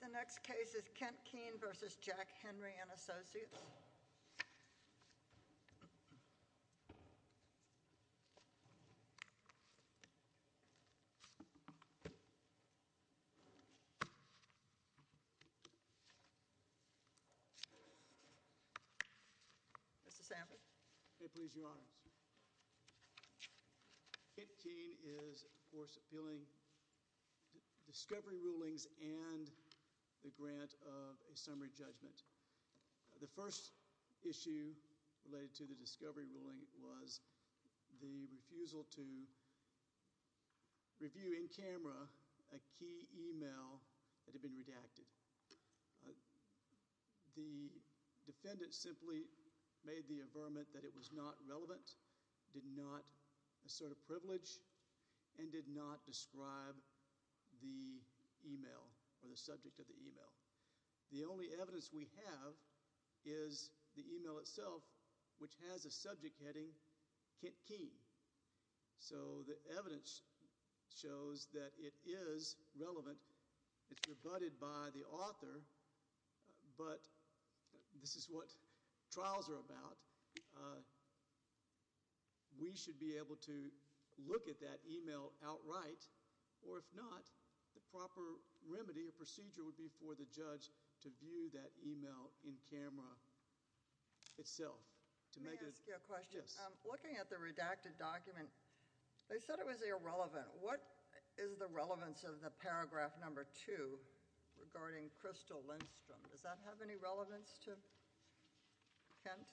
The next case is Kent Kean v. Jack Henry & Associates. Kent Kean is, of course, appealing discovery rulings and the grant of a summary judgment. The first issue related to the discovery ruling was the refusal to review in camera a key email that had been redacted. The defendant simply made the averment that it was not relevant, did not assert a privilege, and did not describe the email or the subject of the email. The only evidence we have is the email itself, which has a subject heading Kent Kean. So the evidence shows that it is relevant. It's rebutted by the author, but this is what trials are about. We should be able to look at that email outright, or if not, the proper remedy or procedure would be for the judge to view that email in camera itself. Let me ask you a question. Yes. Looking at the redacted document, they said it was irrelevant. What is the relevance of the paragraph number two regarding Crystal Lindstrom? Does that have any relevance to Kent?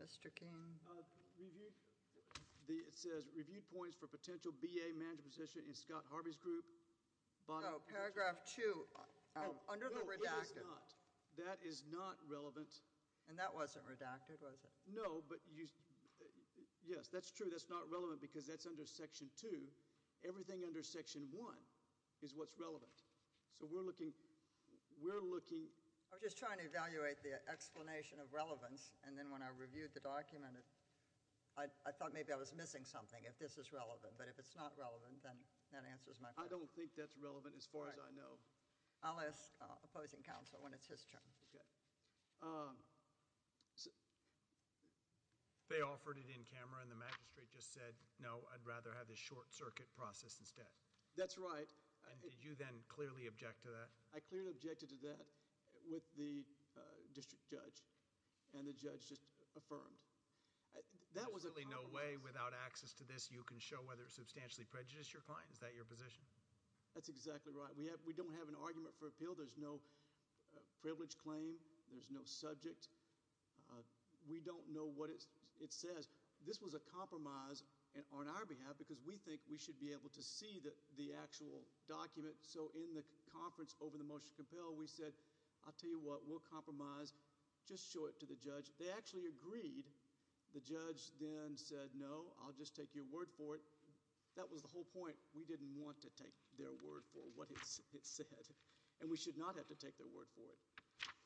Mr. Kean? It says reviewed points for potential B.A. management position in Scott Harvey's group. Paragraph two, under the redacted. That is not relevant. And that wasn't redacted, was it? No, but yes, that's true. That's not relevant because that's under section two. Everything under section one is what's relevant. So we're looking. I was just trying to evaluate the explanation of relevance, and then when I reviewed the document, I thought maybe I was missing something, if this is relevant. But if it's not relevant, then that answers my question. I don't think that's relevant as far as I know. I'll ask opposing counsel when it's his turn. They offered it in camera, and the magistrate just said, no, I'd rather have the short circuit process instead. That's right. And did you then clearly object to that? I clearly objected to that with the district judge, and the judge just affirmed. There's really no way without access to this you can show whether it substantially prejudiced your client. Is that your position? That's exactly right. We don't have an argument for appeal. There's no privilege claim. There's no subject. We don't know what it says. This was a compromise on our behalf because we think we should be able to see the actual document. So in the conference over the motion to compel, we said, I'll tell you what, we'll compromise. Just show it to the judge. They actually agreed. The judge then said, no, I'll just take your word for it. That was the whole point. We didn't want to take their word for what it said, and we should not have to take their word for it.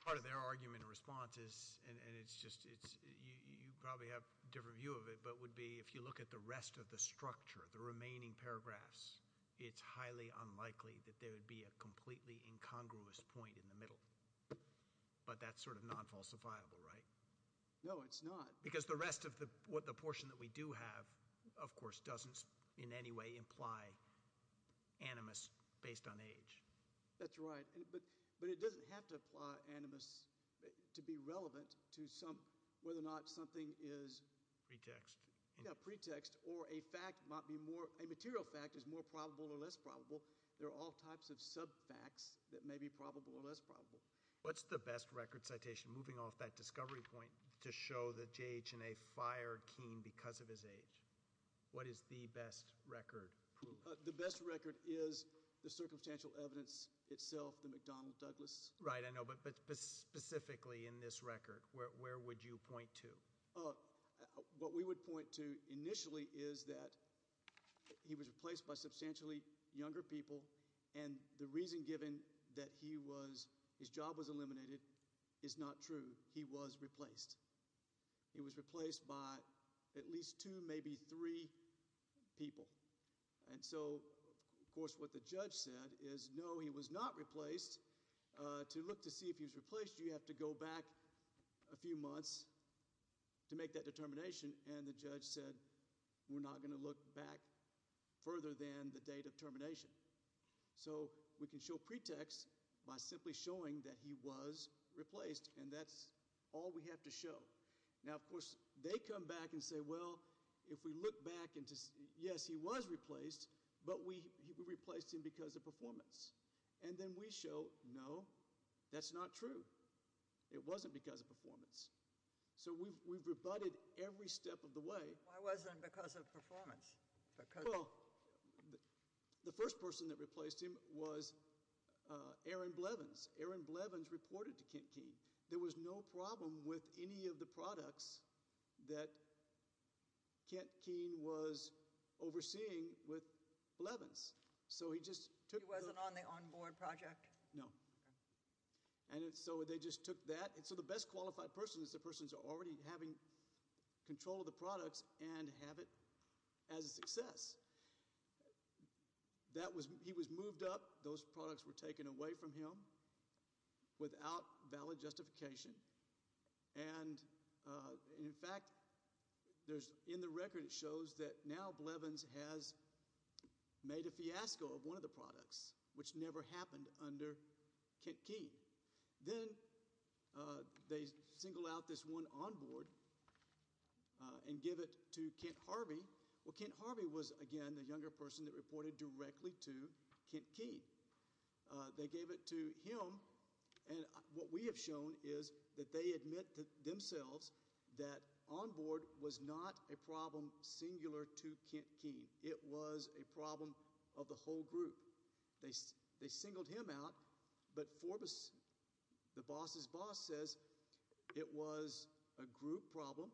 Part of their argument and response is, and you probably have a different view of it, but would be if you look at the rest of the structure, the remaining paragraphs, it's highly unlikely that there would be a completely incongruous point in the middle. But that's sort of non-falsifiable, right? No, it's not. Because the rest of the portion that we do have, of course, doesn't in any way imply animus based on age. That's right. But it doesn't have to apply animus to be relevant to whether or not something is pretext or a material fact is more probable or less probable. There are all types of sub-facts that may be probable or less probable. What's the best record citation, moving off that discovery point, to show that JHNA fired Keene because of his age? What is the best record? The best record is the circumstantial evidence itself, the McDonnell Douglas. Right, I know. But specifically in this record, where would you point to? What we would point to initially is that he was replaced by substantially younger people, and the reason given that his job was eliminated is not true. He was replaced. He was replaced by at least two, maybe three people. And so, of course, what the judge said is, no, he was not replaced. To look to see if he was replaced, you have to go back a few months to make that determination. And the judge said, we're not going to look back further than the date of termination. So we can show pretext by simply showing that he was replaced, and that's all we have to show. Now, of course, they come back and say, well, if we look back and say, yes, he was replaced, but we replaced him because of performance. And then we show, no, that's not true. It wasn't because of performance. So we've rebutted every step of the way. Why wasn't it because of performance? Well, the first person that replaced him was Aaron Blevins. Aaron Blevins reported to Kent Keene. There was no problem with any of the products that Kent Keene was overseeing with Blevins. So he just took the- He wasn't on the on-board project? No. Okay. And so they just took that, and so the best qualified person is the person who's already having control of the products and have it as a success. He was moved up. Those products were taken away from him without valid justification. And, in fact, in the record it shows that now Blevins has made a fiasco of one of the products, which never happened under Kent Keene. Then they single out this one on-board and give it to Kent Harvey. Well, Kent Harvey was, again, the younger person that reported directly to Kent Keene. They gave it to him, and what we have shown is that they admit to themselves that on-board was not a problem singular to Kent Keene. It was a problem of the whole group. They singled him out, but the boss's boss says it was a group problem.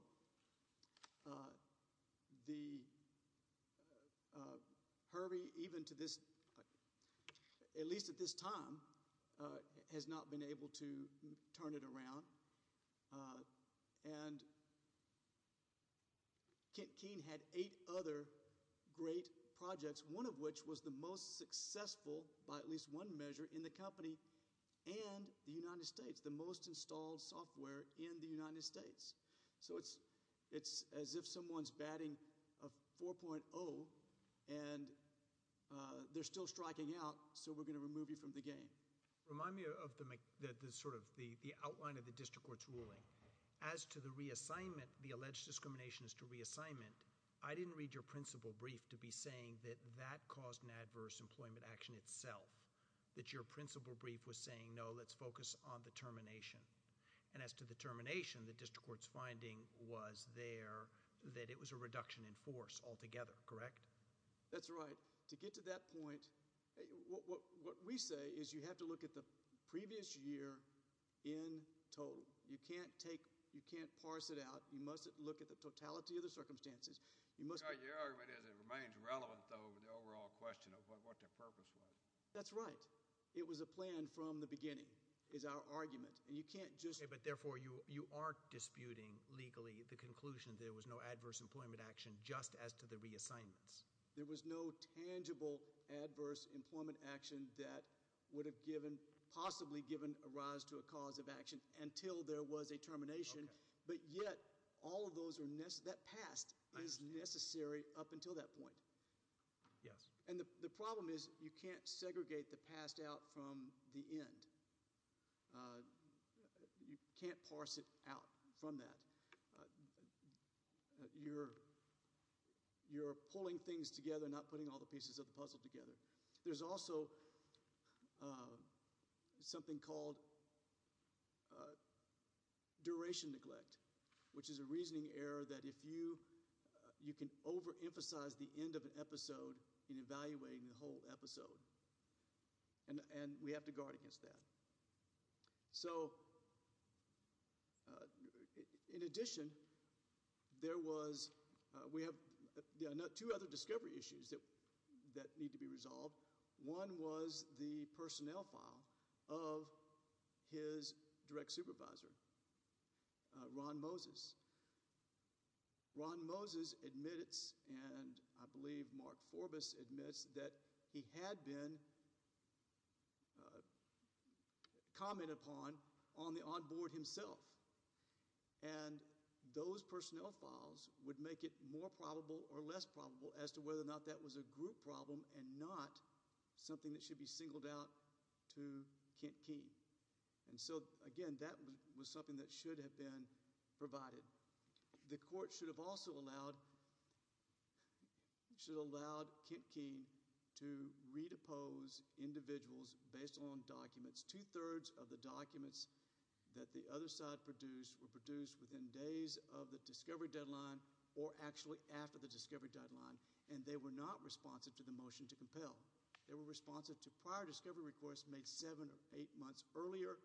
Harvey, even to this, at least at this time, has not been able to turn it around. And Kent Keene had eight other great projects, one of which was the most successful, by at least one measure, in the company and the United States, the most installed software in the United States. So it's as if someone's batting a 4.0, and they're still striking out, so we're going to remove you from the game. And remind me of the outline of the district court's ruling. As to the reassignment, the alleged discrimination as to reassignment, I didn't read your principal brief to be saying that that caused an adverse employment action itself, that your principal brief was saying, no, let's focus on the termination. And as to the termination, the district court's finding was there that it was a reduction in force altogether, correct? That's right. To get to that point, what we say is you have to look at the previous year in total. You can't take, you can't parse it out. You mustn't look at the totality of the circumstances. Your argument is it remains relevant, though, with the overall question of what the purpose was. That's right. It was a plan from the beginning, is our argument. And you can't just Okay, but therefore you are disputing legally the conclusion that there was no adverse employment action just as to the reassignments. There was no tangible adverse employment action that would have given, possibly given a rise to a cause of action until there was a termination. But yet, all of those are necessary, that past is necessary up until that point. Yes. And the problem is you can't segregate the past out from the end. You can't parse it out from that. You're pulling things together, not putting all the pieces of the puzzle together. There's also something called duration neglect, which is a reasoning error that if you, you can overemphasize the end of an episode in evaluating the whole episode. And we have to guard against that. So, in addition, there was, we have two other discovery issues that need to be resolved. One was the personnel file of his direct supervisor, Ron Moses. Ron Moses admits, and I believe Mark Forbus admits, that he had been commented upon on the onboard himself. And those personnel files would make it more probable or less probable as to whether or not that was a group problem and not something that should be singled out to Kent Key. And so, again, that was something that should have been provided. The court should have also allowed, should have allowed Kent Key to re-depose individuals based on documents. Two-thirds of the documents that the other side produced were produced within days of the discovery deadline or actually after the discovery deadline. And they were not responsive to the motion to compel. They were responsive to prior discovery requests made seven or eight months earlier.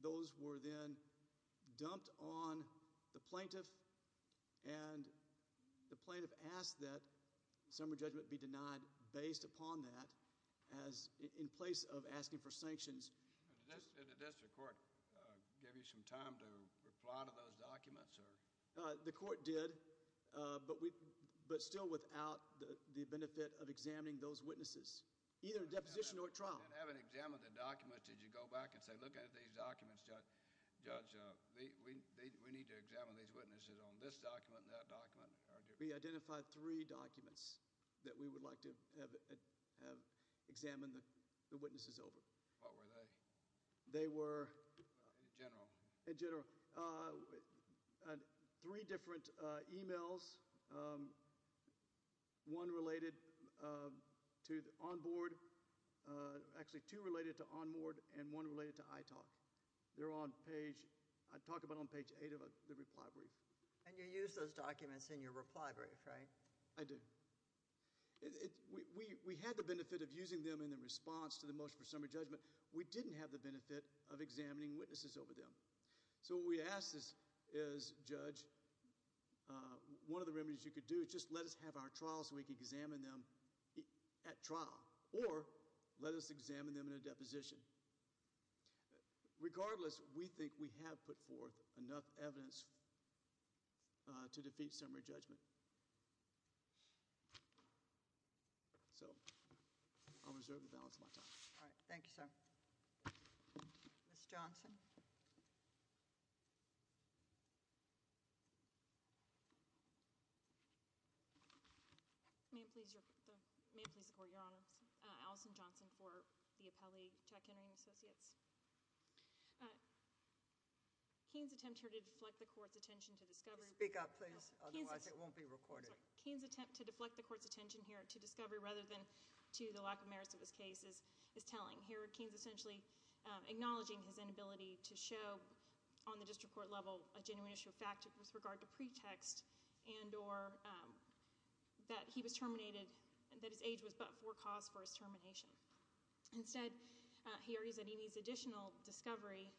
Those were then dumped on the plaintiff. And the plaintiff asked that summary judgment be denied based upon that in place of asking for sanctions. Did the district court give you some time to reply to those documents? No, sir. The court did, but still without the benefit of examining those witnesses, either in deposition or trial. And having examined the documents, did you go back and say, look at these documents, Judge, we need to examine these witnesses on this document and that document? We identified three documents that we would like to have examined the witnesses over. They were- In general. In general. Three different emails, one related to onboard, actually two related to onboard and one related to ITOC. They're on page, I talk about on page eight of the reply brief. And you use those documents in your reply brief, right? I do. We had the benefit of using them in the response to the motion for summary judgment. We didn't have the benefit of examining witnesses over them. So what we ask is, Judge, one of the remedies you could do is just let us have our trial so we can examine them at trial. Or let us examine them in a deposition. Regardless, we think we have put forth enough evidence to defeat summary judgment. So I'll reserve the balance of my time. All right. Thank you, sir. Ms. Johnson. May it please the court, Your Honor. Allison Johnson for the appellee, Chuck Henry and Associates. Keen's attempt here to deflect the court's attention to discovery- Speak up, please. Otherwise it won't be recorded. Keen's attempt to deflect the court's attention here to discovery rather than to the lack of merits of his case is telling. Here Keen's essentially acknowledging his inability to show on the district court level a genuine issue of fact with regard to pretext and or that he was terminated, that his age was but forecast for his termination. Instead, he argues that he needs additional discovery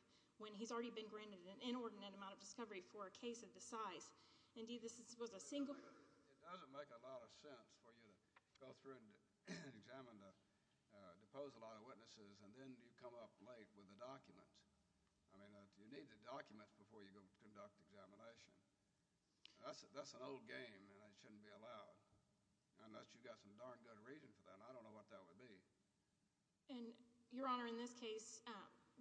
when he's already been granted an inordinate amount of discovery for a case of this size. Indeed, this was a single- It doesn't make a lot of sense for you to go through and examine the deposed line of witnesses and then you come up late with a document. I mean, you need the documents before you go conduct examination. That's an old game and it shouldn't be allowed unless you've got some darn good reason for that, and I don't know what that would be. And, Your Honor, in this case,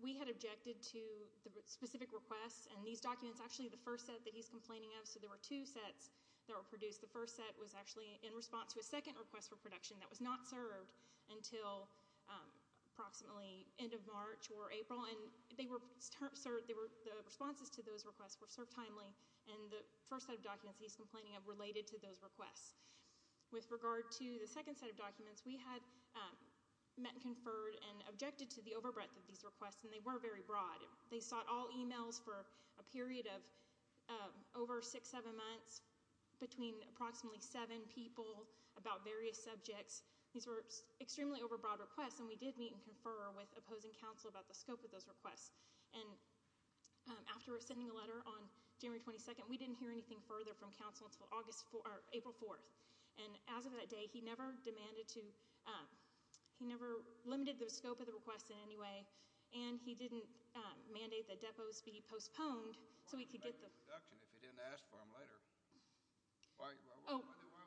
we had objected to the specific requests, and these documents, actually the first set that he's complaining of, so there were two sets that were produced. The first set was actually in response to a second request for production that was not served until approximately end of March or April, and the responses to those requests were served timely, and the first set of documents that he's complaining of related to those requests. With regard to the second set of documents, we had met and conferred and objected to the overbreadth of these requests, and they were very broad. They sought all emails for a period of over six, seven months between approximately seven people about various subjects. These were extremely overbroad requests, and we did meet and confer with opposing counsel about the scope of those requests, and after we were sending a letter on January 22nd, we didn't hear anything further from counsel until April 4th, and as of that day, he never demanded to, he never limited the scope of the requests in any way, and he didn't mandate that depots be postponed so we could get the- Why was it late in production if you didn't ask for them later? Why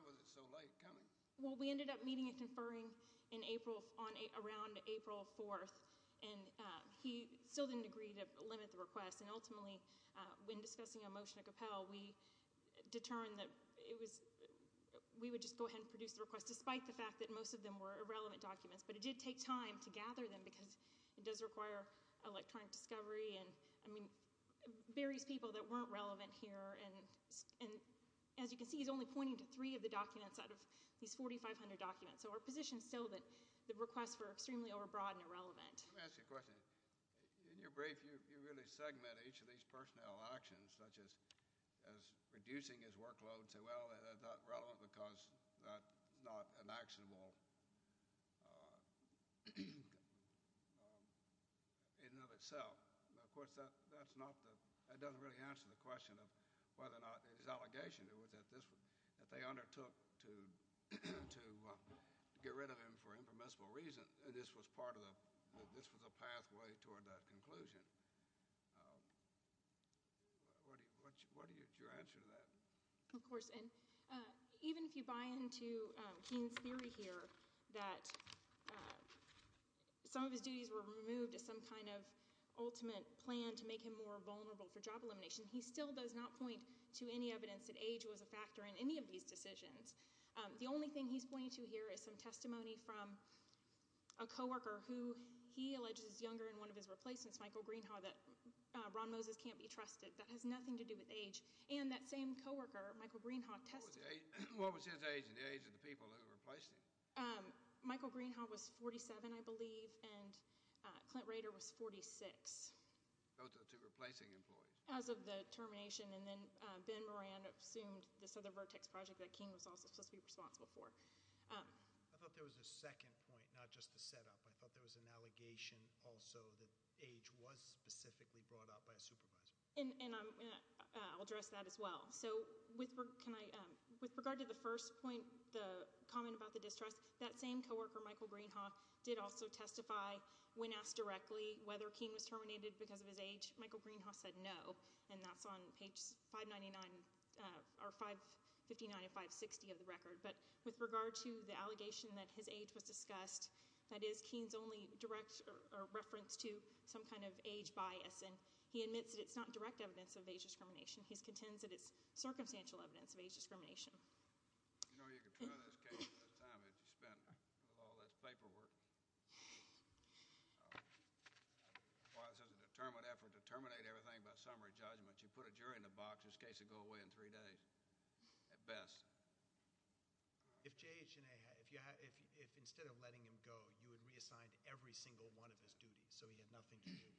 was it so late coming? Well, we ended up meeting and conferring around April 4th, and he still didn't agree to limit the requests, and ultimately, when discussing a motion to compel, we determined that we would just go ahead and produce the request, despite the fact that most of them were irrelevant documents, but it did take time to gather them because it does require electronic discovery, and I mean various people that weren't relevant here, and as you can see, he's only pointing to three of the documents out of these 4,500 documents, so our position is still that the requests were extremely overbroad and irrelevant. Let me ask you a question. In your brief, you really segment each of these personnel actions, such as reducing his workload to, well, they're not relevant because that's not an actionable in and of itself. Of course, that doesn't really answer the question of whether or not his allegation was that they undertook to get rid of him for impermissible reasons, and this was a pathway toward that conclusion. What is your answer to that? Of course, and even if you buy into Keen's theory here that some of his duties were removed as some kind of ultimate plan to make him more vulnerable for job elimination, he still does not point to any evidence that age was a factor in any of these decisions. The only thing he's pointing to here is some testimony from a coworker who he alleges is younger than one of his replacements, Michael Greenhaw, that Ron Moses can't be trusted. That has nothing to do with age, and that same coworker, Michael Greenhaw, testified. What was his age and the age of the people who replaced him? Michael Greenhaw was 47, I believe, and Clint Rader was 46. Those are the two replacing employees. As of the termination, and then Ben Moran assumed this other Vertex project that Keen was also supposed to be responsible for. I thought there was a second point, not just the setup. I thought there was an allegation also that age was specifically brought up by a supervisor. I'll address that as well. With regard to the first point, the comment about the distrust, that same coworker, Michael Greenhaw, did also testify when asked directly whether Keen was terminated because of his age. Michael Greenhaw said no, and that's on page 599 or 559 and 560 of the record. But with regard to the allegation that his age was discussed, that is Keen's only direct reference to some kind of age bias, and he admits that it's not direct evidence of age discrimination. He contends that it's circumstantial evidence of age discrimination. You know you could try this case at the time that you spent with all this paperwork. Why, this is a determined effort to terminate everything by summary judgment. You put a jury in a box, this case would go away in three days at best. If J.H. and A. had, if instead of letting him go, you had reassigned every single one of his duties so he had nothing to do,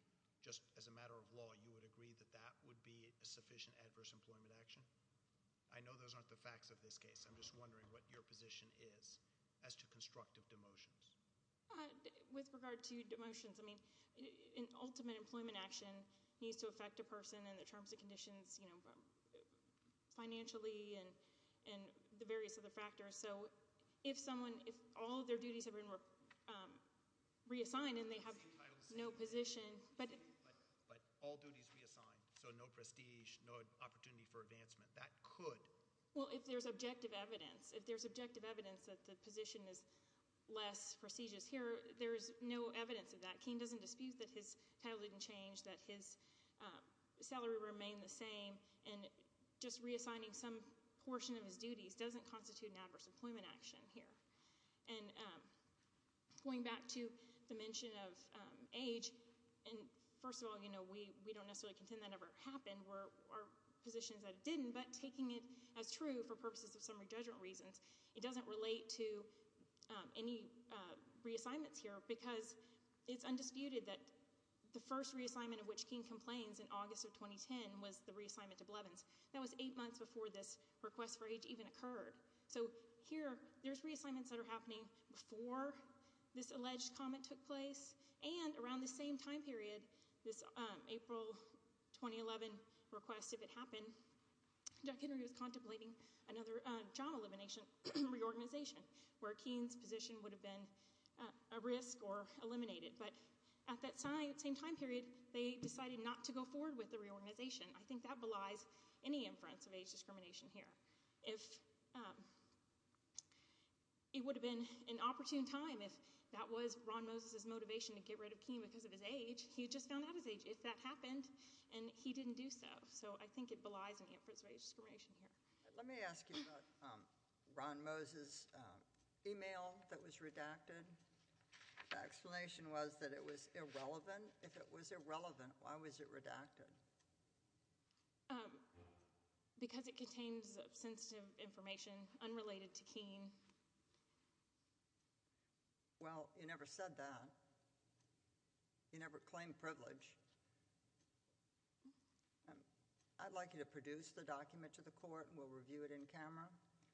just as a matter of law, you would agree that that would be a sufficient adverse employment action? I know those aren't the facts of this case. I'm just wondering what your position is as to constructive demotions. With regard to demotions, I mean, an ultimate employment action needs to affect a person in the terms and conditions, you know, financially and the various other factors. So if someone, if all of their duties have been reassigned and they have no position. But all duties reassigned, so no prestige, no opportunity for advancement, that could. Well, if there's objective evidence, if there's objective evidence that the position is less prestigious here, there is no evidence of that. King doesn't dispute that his title didn't change, that his salary remained the same, and just reassigning some portion of his duties doesn't constitute an adverse employment action here. And going back to the mention of age, and first of all, you know, we don't necessarily contend that ever happened. Our position is that it didn't, but taking it as true for purposes of summary judgment reasons. It doesn't relate to any reassignments here, because it's undisputed that the first reassignment of which King complains in August of 2010 was the reassignment to Blevins. That was eight months before this request for age even occurred. So here, there's reassignments that are happening before this alleged comment took place, and around this same time period, this April 2011 request, if it happened, Jack Henry was contemplating another job elimination reorganization, where King's position would have been a risk or eliminated. But at that same time period, they decided not to go forward with the reorganization. I think that belies any inference of age discrimination here. If it would have been an opportune time, if that was Ron Moses' motivation to get rid of King because of his age, he just found out his age if that happened, and he didn't do so. So I think it belies any inference of age discrimination here. Let me ask you about Ron Moses' email that was redacted. The explanation was that it was irrelevant. If it was irrelevant, why was it redacted? Because it contains sensitive information unrelated to King. Well, you never said that. You never claimed privilege. I'd like you to produce the document to the court, and we'll review it in camera,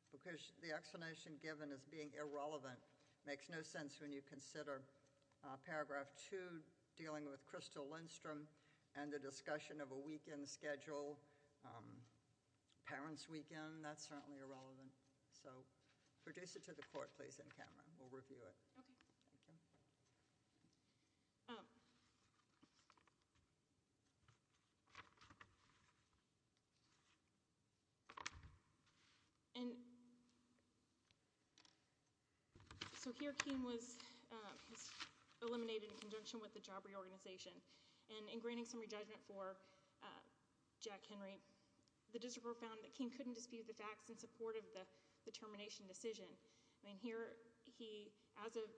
because the explanation given as being irrelevant makes no sense when you consider Paragraph 2, dealing with Crystal Lindstrom and the discussion of a weekend schedule, parents' weekend. That's certainly irrelevant. So produce it to the court, please, in camera. We'll review it. Okay. Thank you. And so here King was eliminated in conjunction with the job reorganization. And in granting summary judgment for Jack Henry, the district court found that King couldn't dispute the facts in support of the termination decision. I mean, here he, as of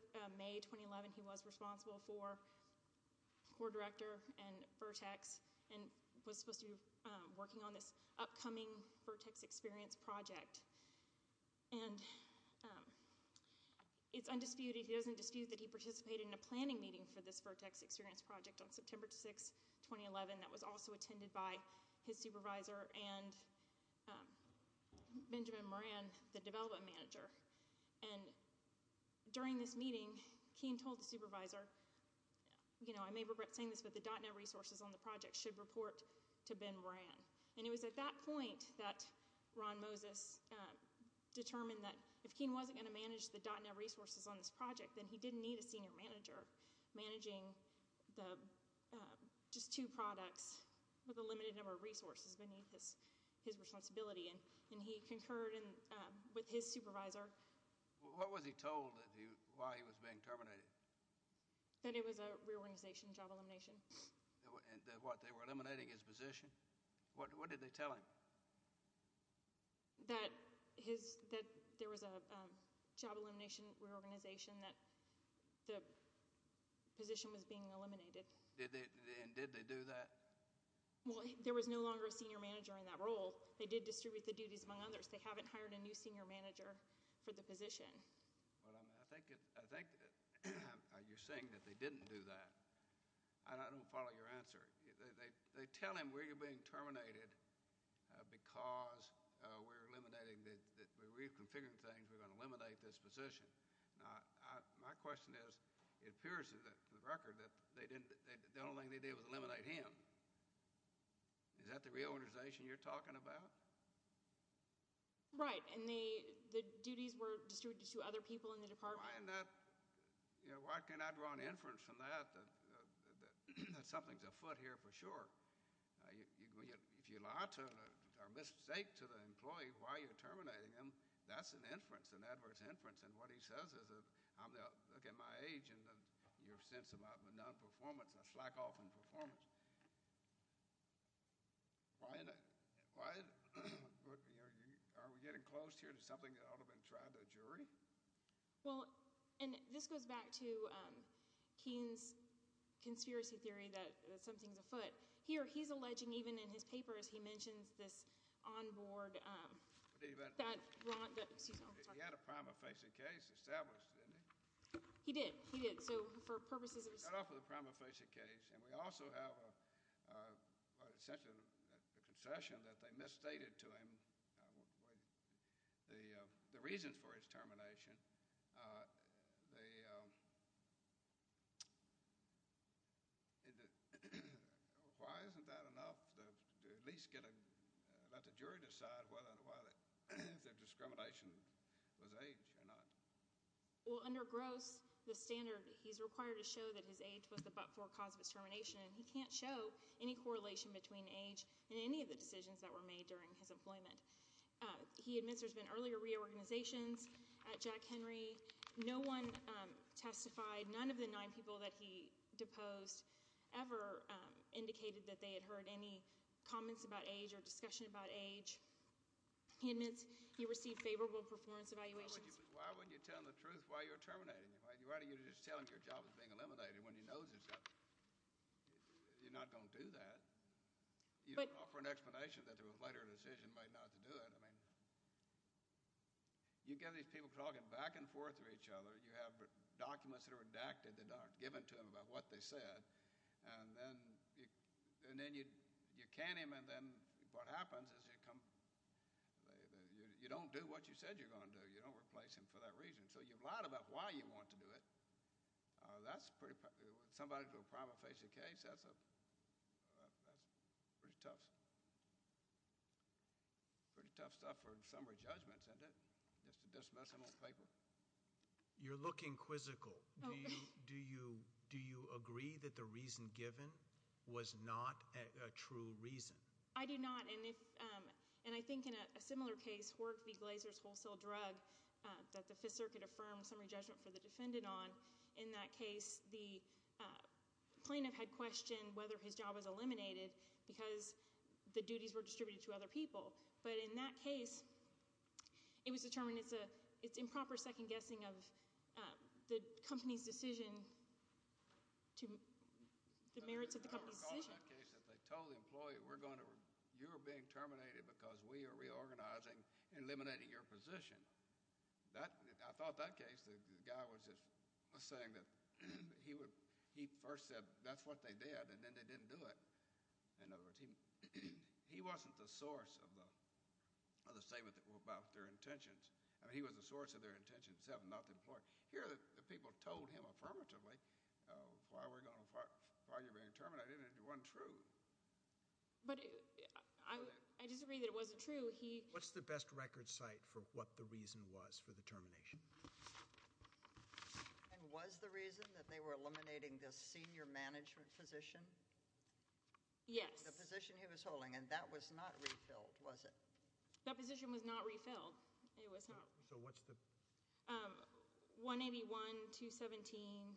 May 2011, he was responsible for court director and Vertex and was supposed to be working on this upcoming Vertex experience project. And it's undisputed, he doesn't dispute, that he participated in a planning meeting for this Vertex experience project on September 6, 2011, that was also attended by his supervisor and Benjamin Moran, the development manager. And during this meeting, King told the supervisor, you know, I may regret saying this, but the .NET resources on the project should report to Ben Moran. And it was at that point that Ron Moses determined that if King wasn't going to manage the .NET resources on this project, then he didn't need a senior manager managing just two products with a limited number of resources beneath his responsibility. And he concurred with his supervisor. What was he told while he was being terminated? That it was a reorganization job elimination. What, they were eliminating his position? What did they tell him? That there was a job elimination reorganization, that the position was being eliminated. And did they do that? Well, there was no longer a senior manager in that role. They did distribute the duties among others. They haven't hired a new senior manager for the position. Well, I think you're saying that they didn't do that. And I don't follow your answer. They tell him, we're being terminated because we're eliminating, we're reconfiguring things, we're going to eliminate this position. My question is, it appears to the record that the only thing they did was eliminate him. Is that the reorganization you're talking about? Right, and the duties were distributed to other people in the department? Why can't I draw an inference from that that something's afoot here for sure? If you lie or mistake to the employee while you're terminating him, that's an inference, an adverse inference. And what he says is, look at my age and your sense of performance, a slack-off in performance. Are we getting close here to something that ought to have been tried to a jury? Well, and this goes back to Keane's conspiracy theory that something's afoot. Here, he's alleging, even in his papers, he mentions this on-board— He had a prima facie case established, didn't he? He did, he did. We start off with a prima facie case, and we also have essentially a concession that they misstated to him the reasons for his termination. Why isn't that enough to at least let the jury decide whether their discrimination was age or not? Well, under Gross, the standard, he's required to show that his age was the but-for cause of his termination, and he can't show any correlation between age and any of the decisions that were made during his employment. He admits there's been earlier reorganizations at Jack Henry. No one testified. None of the nine people that he deposed ever indicated that they had heard any comments about age or discussion about age. He admits he received favorable performance evaluations. Why would you tell him the truth while you're terminating him? Why don't you just tell him your job is being eliminated when he knows you're not going to do that? You don't offer an explanation that there was later a decision made not to do it. I mean you get these people talking back and forth to each other. You have documents that are redacted that aren't given to them about what they said, and then you can him, and then what happens is you don't do what you said you were going to do. You don't replace him for that reason. So you've lied about why you want to do it. That's pretty – somebody with a prima facie case, that's pretty tough stuff for summary judgments, isn't it, just to dismiss him on paper? You're looking quizzical. Do you agree that the reason given was not a true reason? I do not. And I think in a similar case, Hork v. Glazer's wholesale drug that the Fifth Circuit affirmed summary judgment for the defendant on, in that case the plaintiff had questioned whether his job was eliminated because the duties were distributed to other people. But in that case it was determined it's improper second-guessing of the company's decision to – the merits of the company's decision. In that case if they told the employee we're going to – you're being terminated because we are reorganizing and eliminating your position, I thought that case the guy was just saying that he first said that's what they did and then they didn't do it. In other words, he wasn't the source of the statement about their intentions. I mean he was the source of their intention itself, not the employee. Here the people told him affirmatively why we're going to – why you're being terminated and it wasn't true. But I disagree that it wasn't true. What's the best record site for what the reason was for the termination? And was the reason that they were eliminating this senior management position? Yes. The position he was holding. And that was not refilled, was it? That position was not refilled. It was not. So what's the – 181, 217,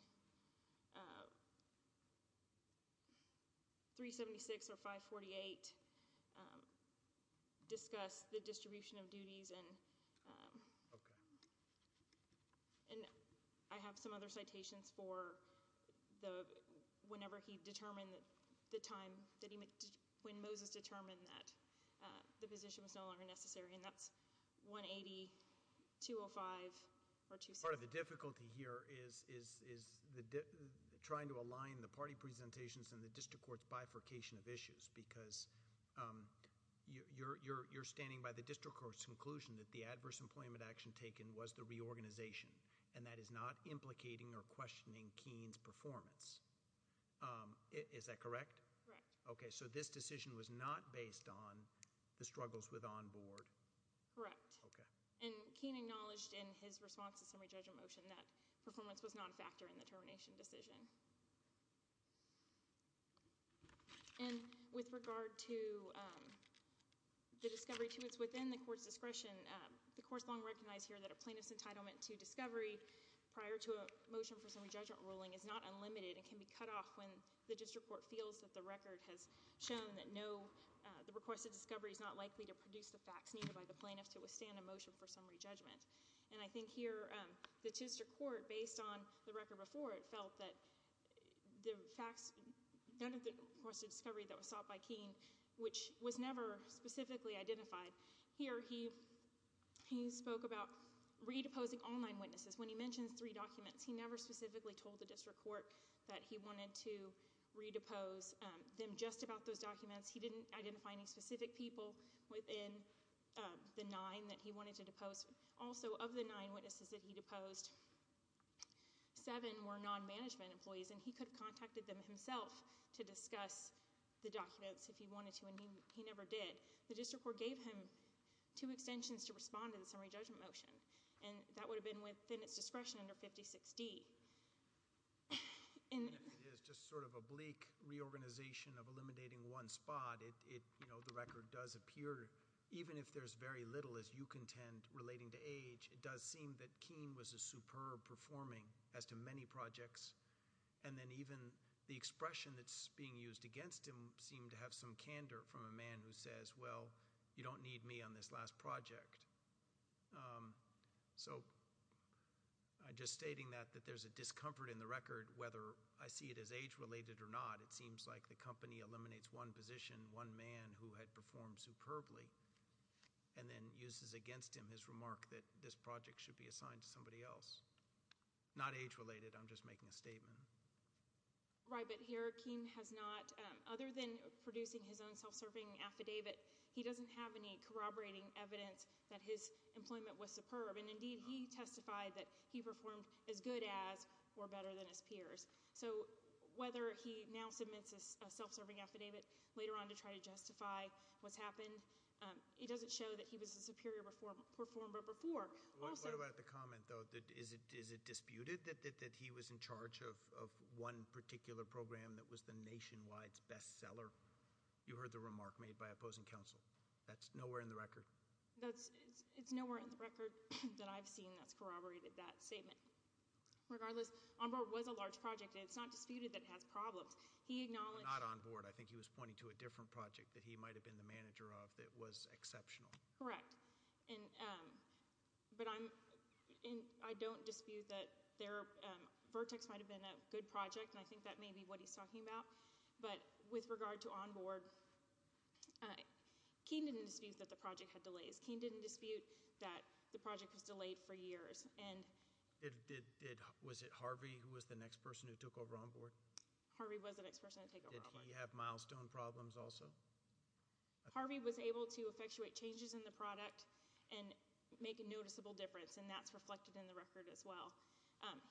376 or 548 discuss the distribution of duties and – Okay. And I have some other citations for the – whenever he determined the time that he – when Moses determined that the position was no longer necessary. And that's 180, 205 or 276. Part of the difficulty here is trying to align the party presentations and the district court's bifurcation of issues because you're standing by the district court's conclusion that the adverse employment action taken was the reorganization. And that is not implicating or questioning Keene's performance. Is that correct? Correct. Okay. So this decision was not based on the struggles with onboard? Correct. Okay. And Keene acknowledged in his response to the summary judgment motion that performance was not a factor in the termination decision. And with regard to the discovery to its within the court's discretion, the court's long recognized here that a plaintiff's entitlement to discovery prior to a motion for summary judgment ruling is not unlimited and can be cut off when the district court feels that the record has shown that no – the requested discovery is not likely to produce the facts needed by the plaintiff to withstand a motion for summary judgment. And I think here the district court, based on the record before it, felt that the facts – none of the requested discovery that was sought by Keene, which was never specifically identified. Here he spoke about redeposing all nine witnesses. When he mentions three documents, he never specifically told the district court that he wanted to redepose them just about those documents. He didn't identify any specific people within the nine that he wanted to depose. Also, of the nine witnesses that he deposed, seven were non-management employees, and he could have contacted them himself to discuss the documents if he wanted to, and he never did. The district court gave him two extensions to respond to the summary judgment motion, and that would have been within its discretion under 56D. It is just sort of a bleak reorganization of eliminating one spot. It – you know, the record does appear, even if there's very little, as you contend, relating to age, it does seem that Keene was a superb performing as to many projects, and then even the expression that's being used against him seemed to have some candor from a man who says, well, you don't need me on this last project. So just stating that, that there's a discomfort in the record, whether I see it as age-related or not, it seems like the company eliminates one position, one man who had performed superbly, and then uses against him his remark that this project should be assigned to somebody else. Not age-related, I'm just making a statement. Right, but here Keene has not, other than producing his own self-serving affidavit, he doesn't have any corroborating evidence that his employment was superb, and indeed he testified that he performed as good as or better than his peers. So whether he now submits a self-serving affidavit later on to try to justify what's happened, it doesn't show that he was a superior performer before. What about the comment, though, that is it disputed that he was in charge of one particular program that was the Nationwide's bestseller? You heard the remark made by opposing counsel. That's nowhere in the record. It's nowhere in the record that I've seen that's corroborated that statement. Regardless, OnBoard was a large project, and it's not disputed that it has problems. Not OnBoard. I think he was pointing to a different project that he might have been the manager of that was exceptional. Correct, but I don't dispute that Vertex might have been a good project, and I think that may be what he's talking about. But with regard to OnBoard, Keene didn't dispute that the project had delays. Keene didn't dispute that the project was delayed for years. Was it Harvey who was the next person who took over OnBoard? Harvey was the next person to take over OnBoard. Did he have milestone problems also? Harvey was able to effectuate changes in the product and make a noticeable difference, and that's reflected in the record as well.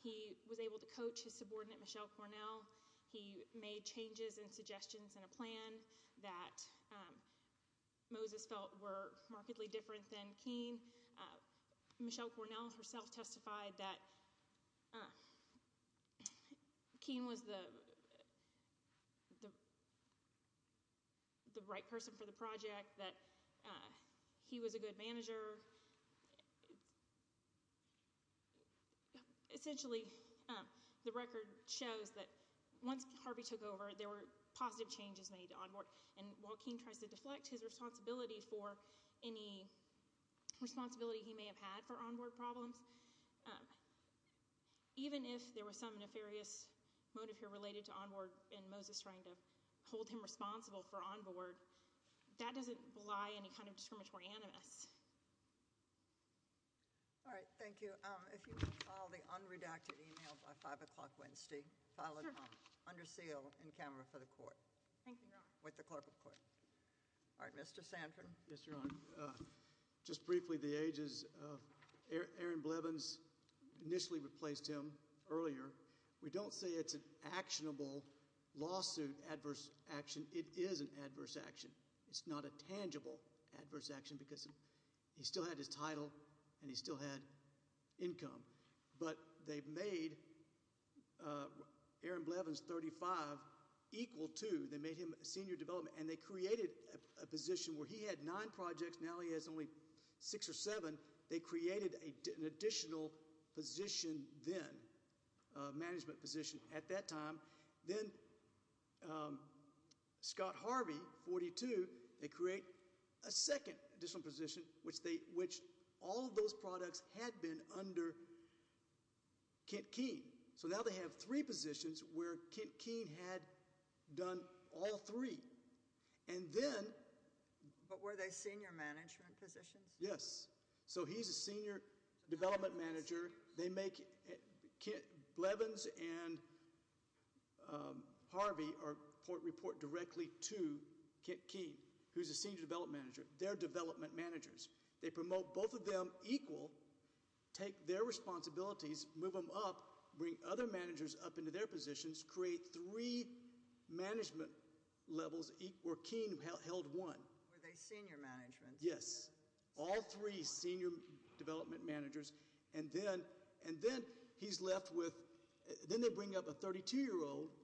He was able to coach his subordinate, Michelle Cornell. He made changes and suggestions in a plan that Moses felt were markedly different than Keene. Michelle Cornell herself testified that Keene was the right person for the project, that he was a good manager. Essentially, the record shows that once Harvey took over, there were positive changes made to OnBoard, and while Keene tries to deflect his responsibility for any responsibility he may have had for OnBoard problems, even if there was some nefarious motive here related to OnBoard and Moses trying to hold him responsible for OnBoard, that doesn't belie any kind of discriminatory animus. All right, thank you. If you could file the unredacted email by 5 o'clock Wednesday, file it under seal in camera for the court. Thank you, Your Honor. With the clerk of court. All right, Mr. Sanford. Yes, Your Honor. Just briefly, the ages. Aaron Blevins initially replaced him earlier. We don't say it's an actionable lawsuit adverse action. It is an adverse action. It's not a tangible adverse action because he still had his title and he still had income, but they made Aaron Blevins, 35, equal to, they made him senior development, and they created a position where he had nine projects. Now he has only six or seven. They created an additional position then, management position at that time. Then Scott Harvey, 42, they create a second additional position, which all of those products had been under Kent Keene. Now they have three positions where Kent Keene had done all three. Were they senior management positions? Yes. He's a senior development manager. Blevins and Harvey report directly to Kent Keene, who's a senior development manager, their development managers. They promote both of them equal, take their responsibilities, move them up, bring other managers up into their positions, create three management levels where Keene held one. Were they senior management? Yes. All three senior development managers. Then he's left with, then they bring up a 32-year-old,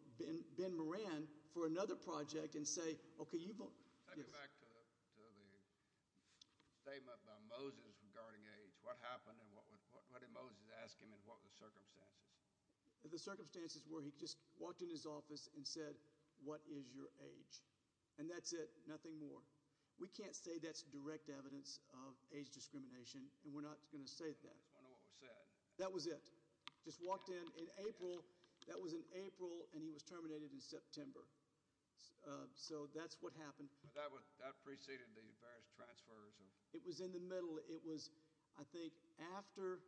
Ben Moran, for another project and say, okay, you vote. Take me back to the statement by Moses regarding age. What happened and what did Moses ask him and what were the circumstances? The circumstances were he just walked in his office and said, what is your age? And that's it, nothing more. We can't say that's direct evidence of age discrimination, and we're not going to say that. I just want to know what was said. That was it. Just walked in in April. That was in April, and he was terminated in September. So that's what happened. But that preceded the various transfers. It was in the middle. It was, I think, after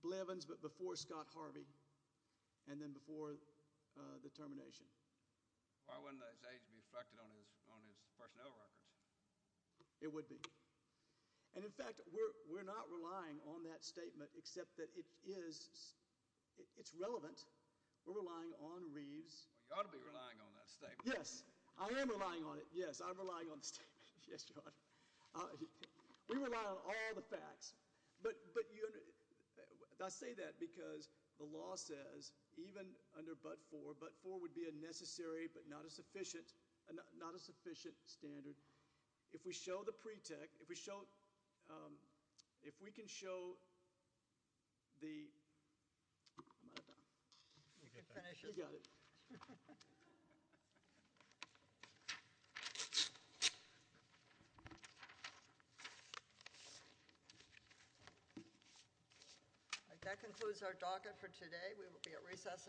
Blevins but before Scott Harvey and then before the termination. Why wouldn't his age be reflected on his personnel records? It would be. And, in fact, we're not relying on that statement except that it's relevant. We're relying on Reeves. Well, you ought to be relying on that statement. Yes, I am relying on it. Yes, I'm relying on the statement. Yes, Your Honor. We rely on all the facts. But I say that because the law says even under but-for, but-for would be a necessary but not a sufficient standard. If we show the pre-tech, if we show, if we can show the I'm out of time. You can finish it. You got it. That concludes our docket for today. We will be at recess.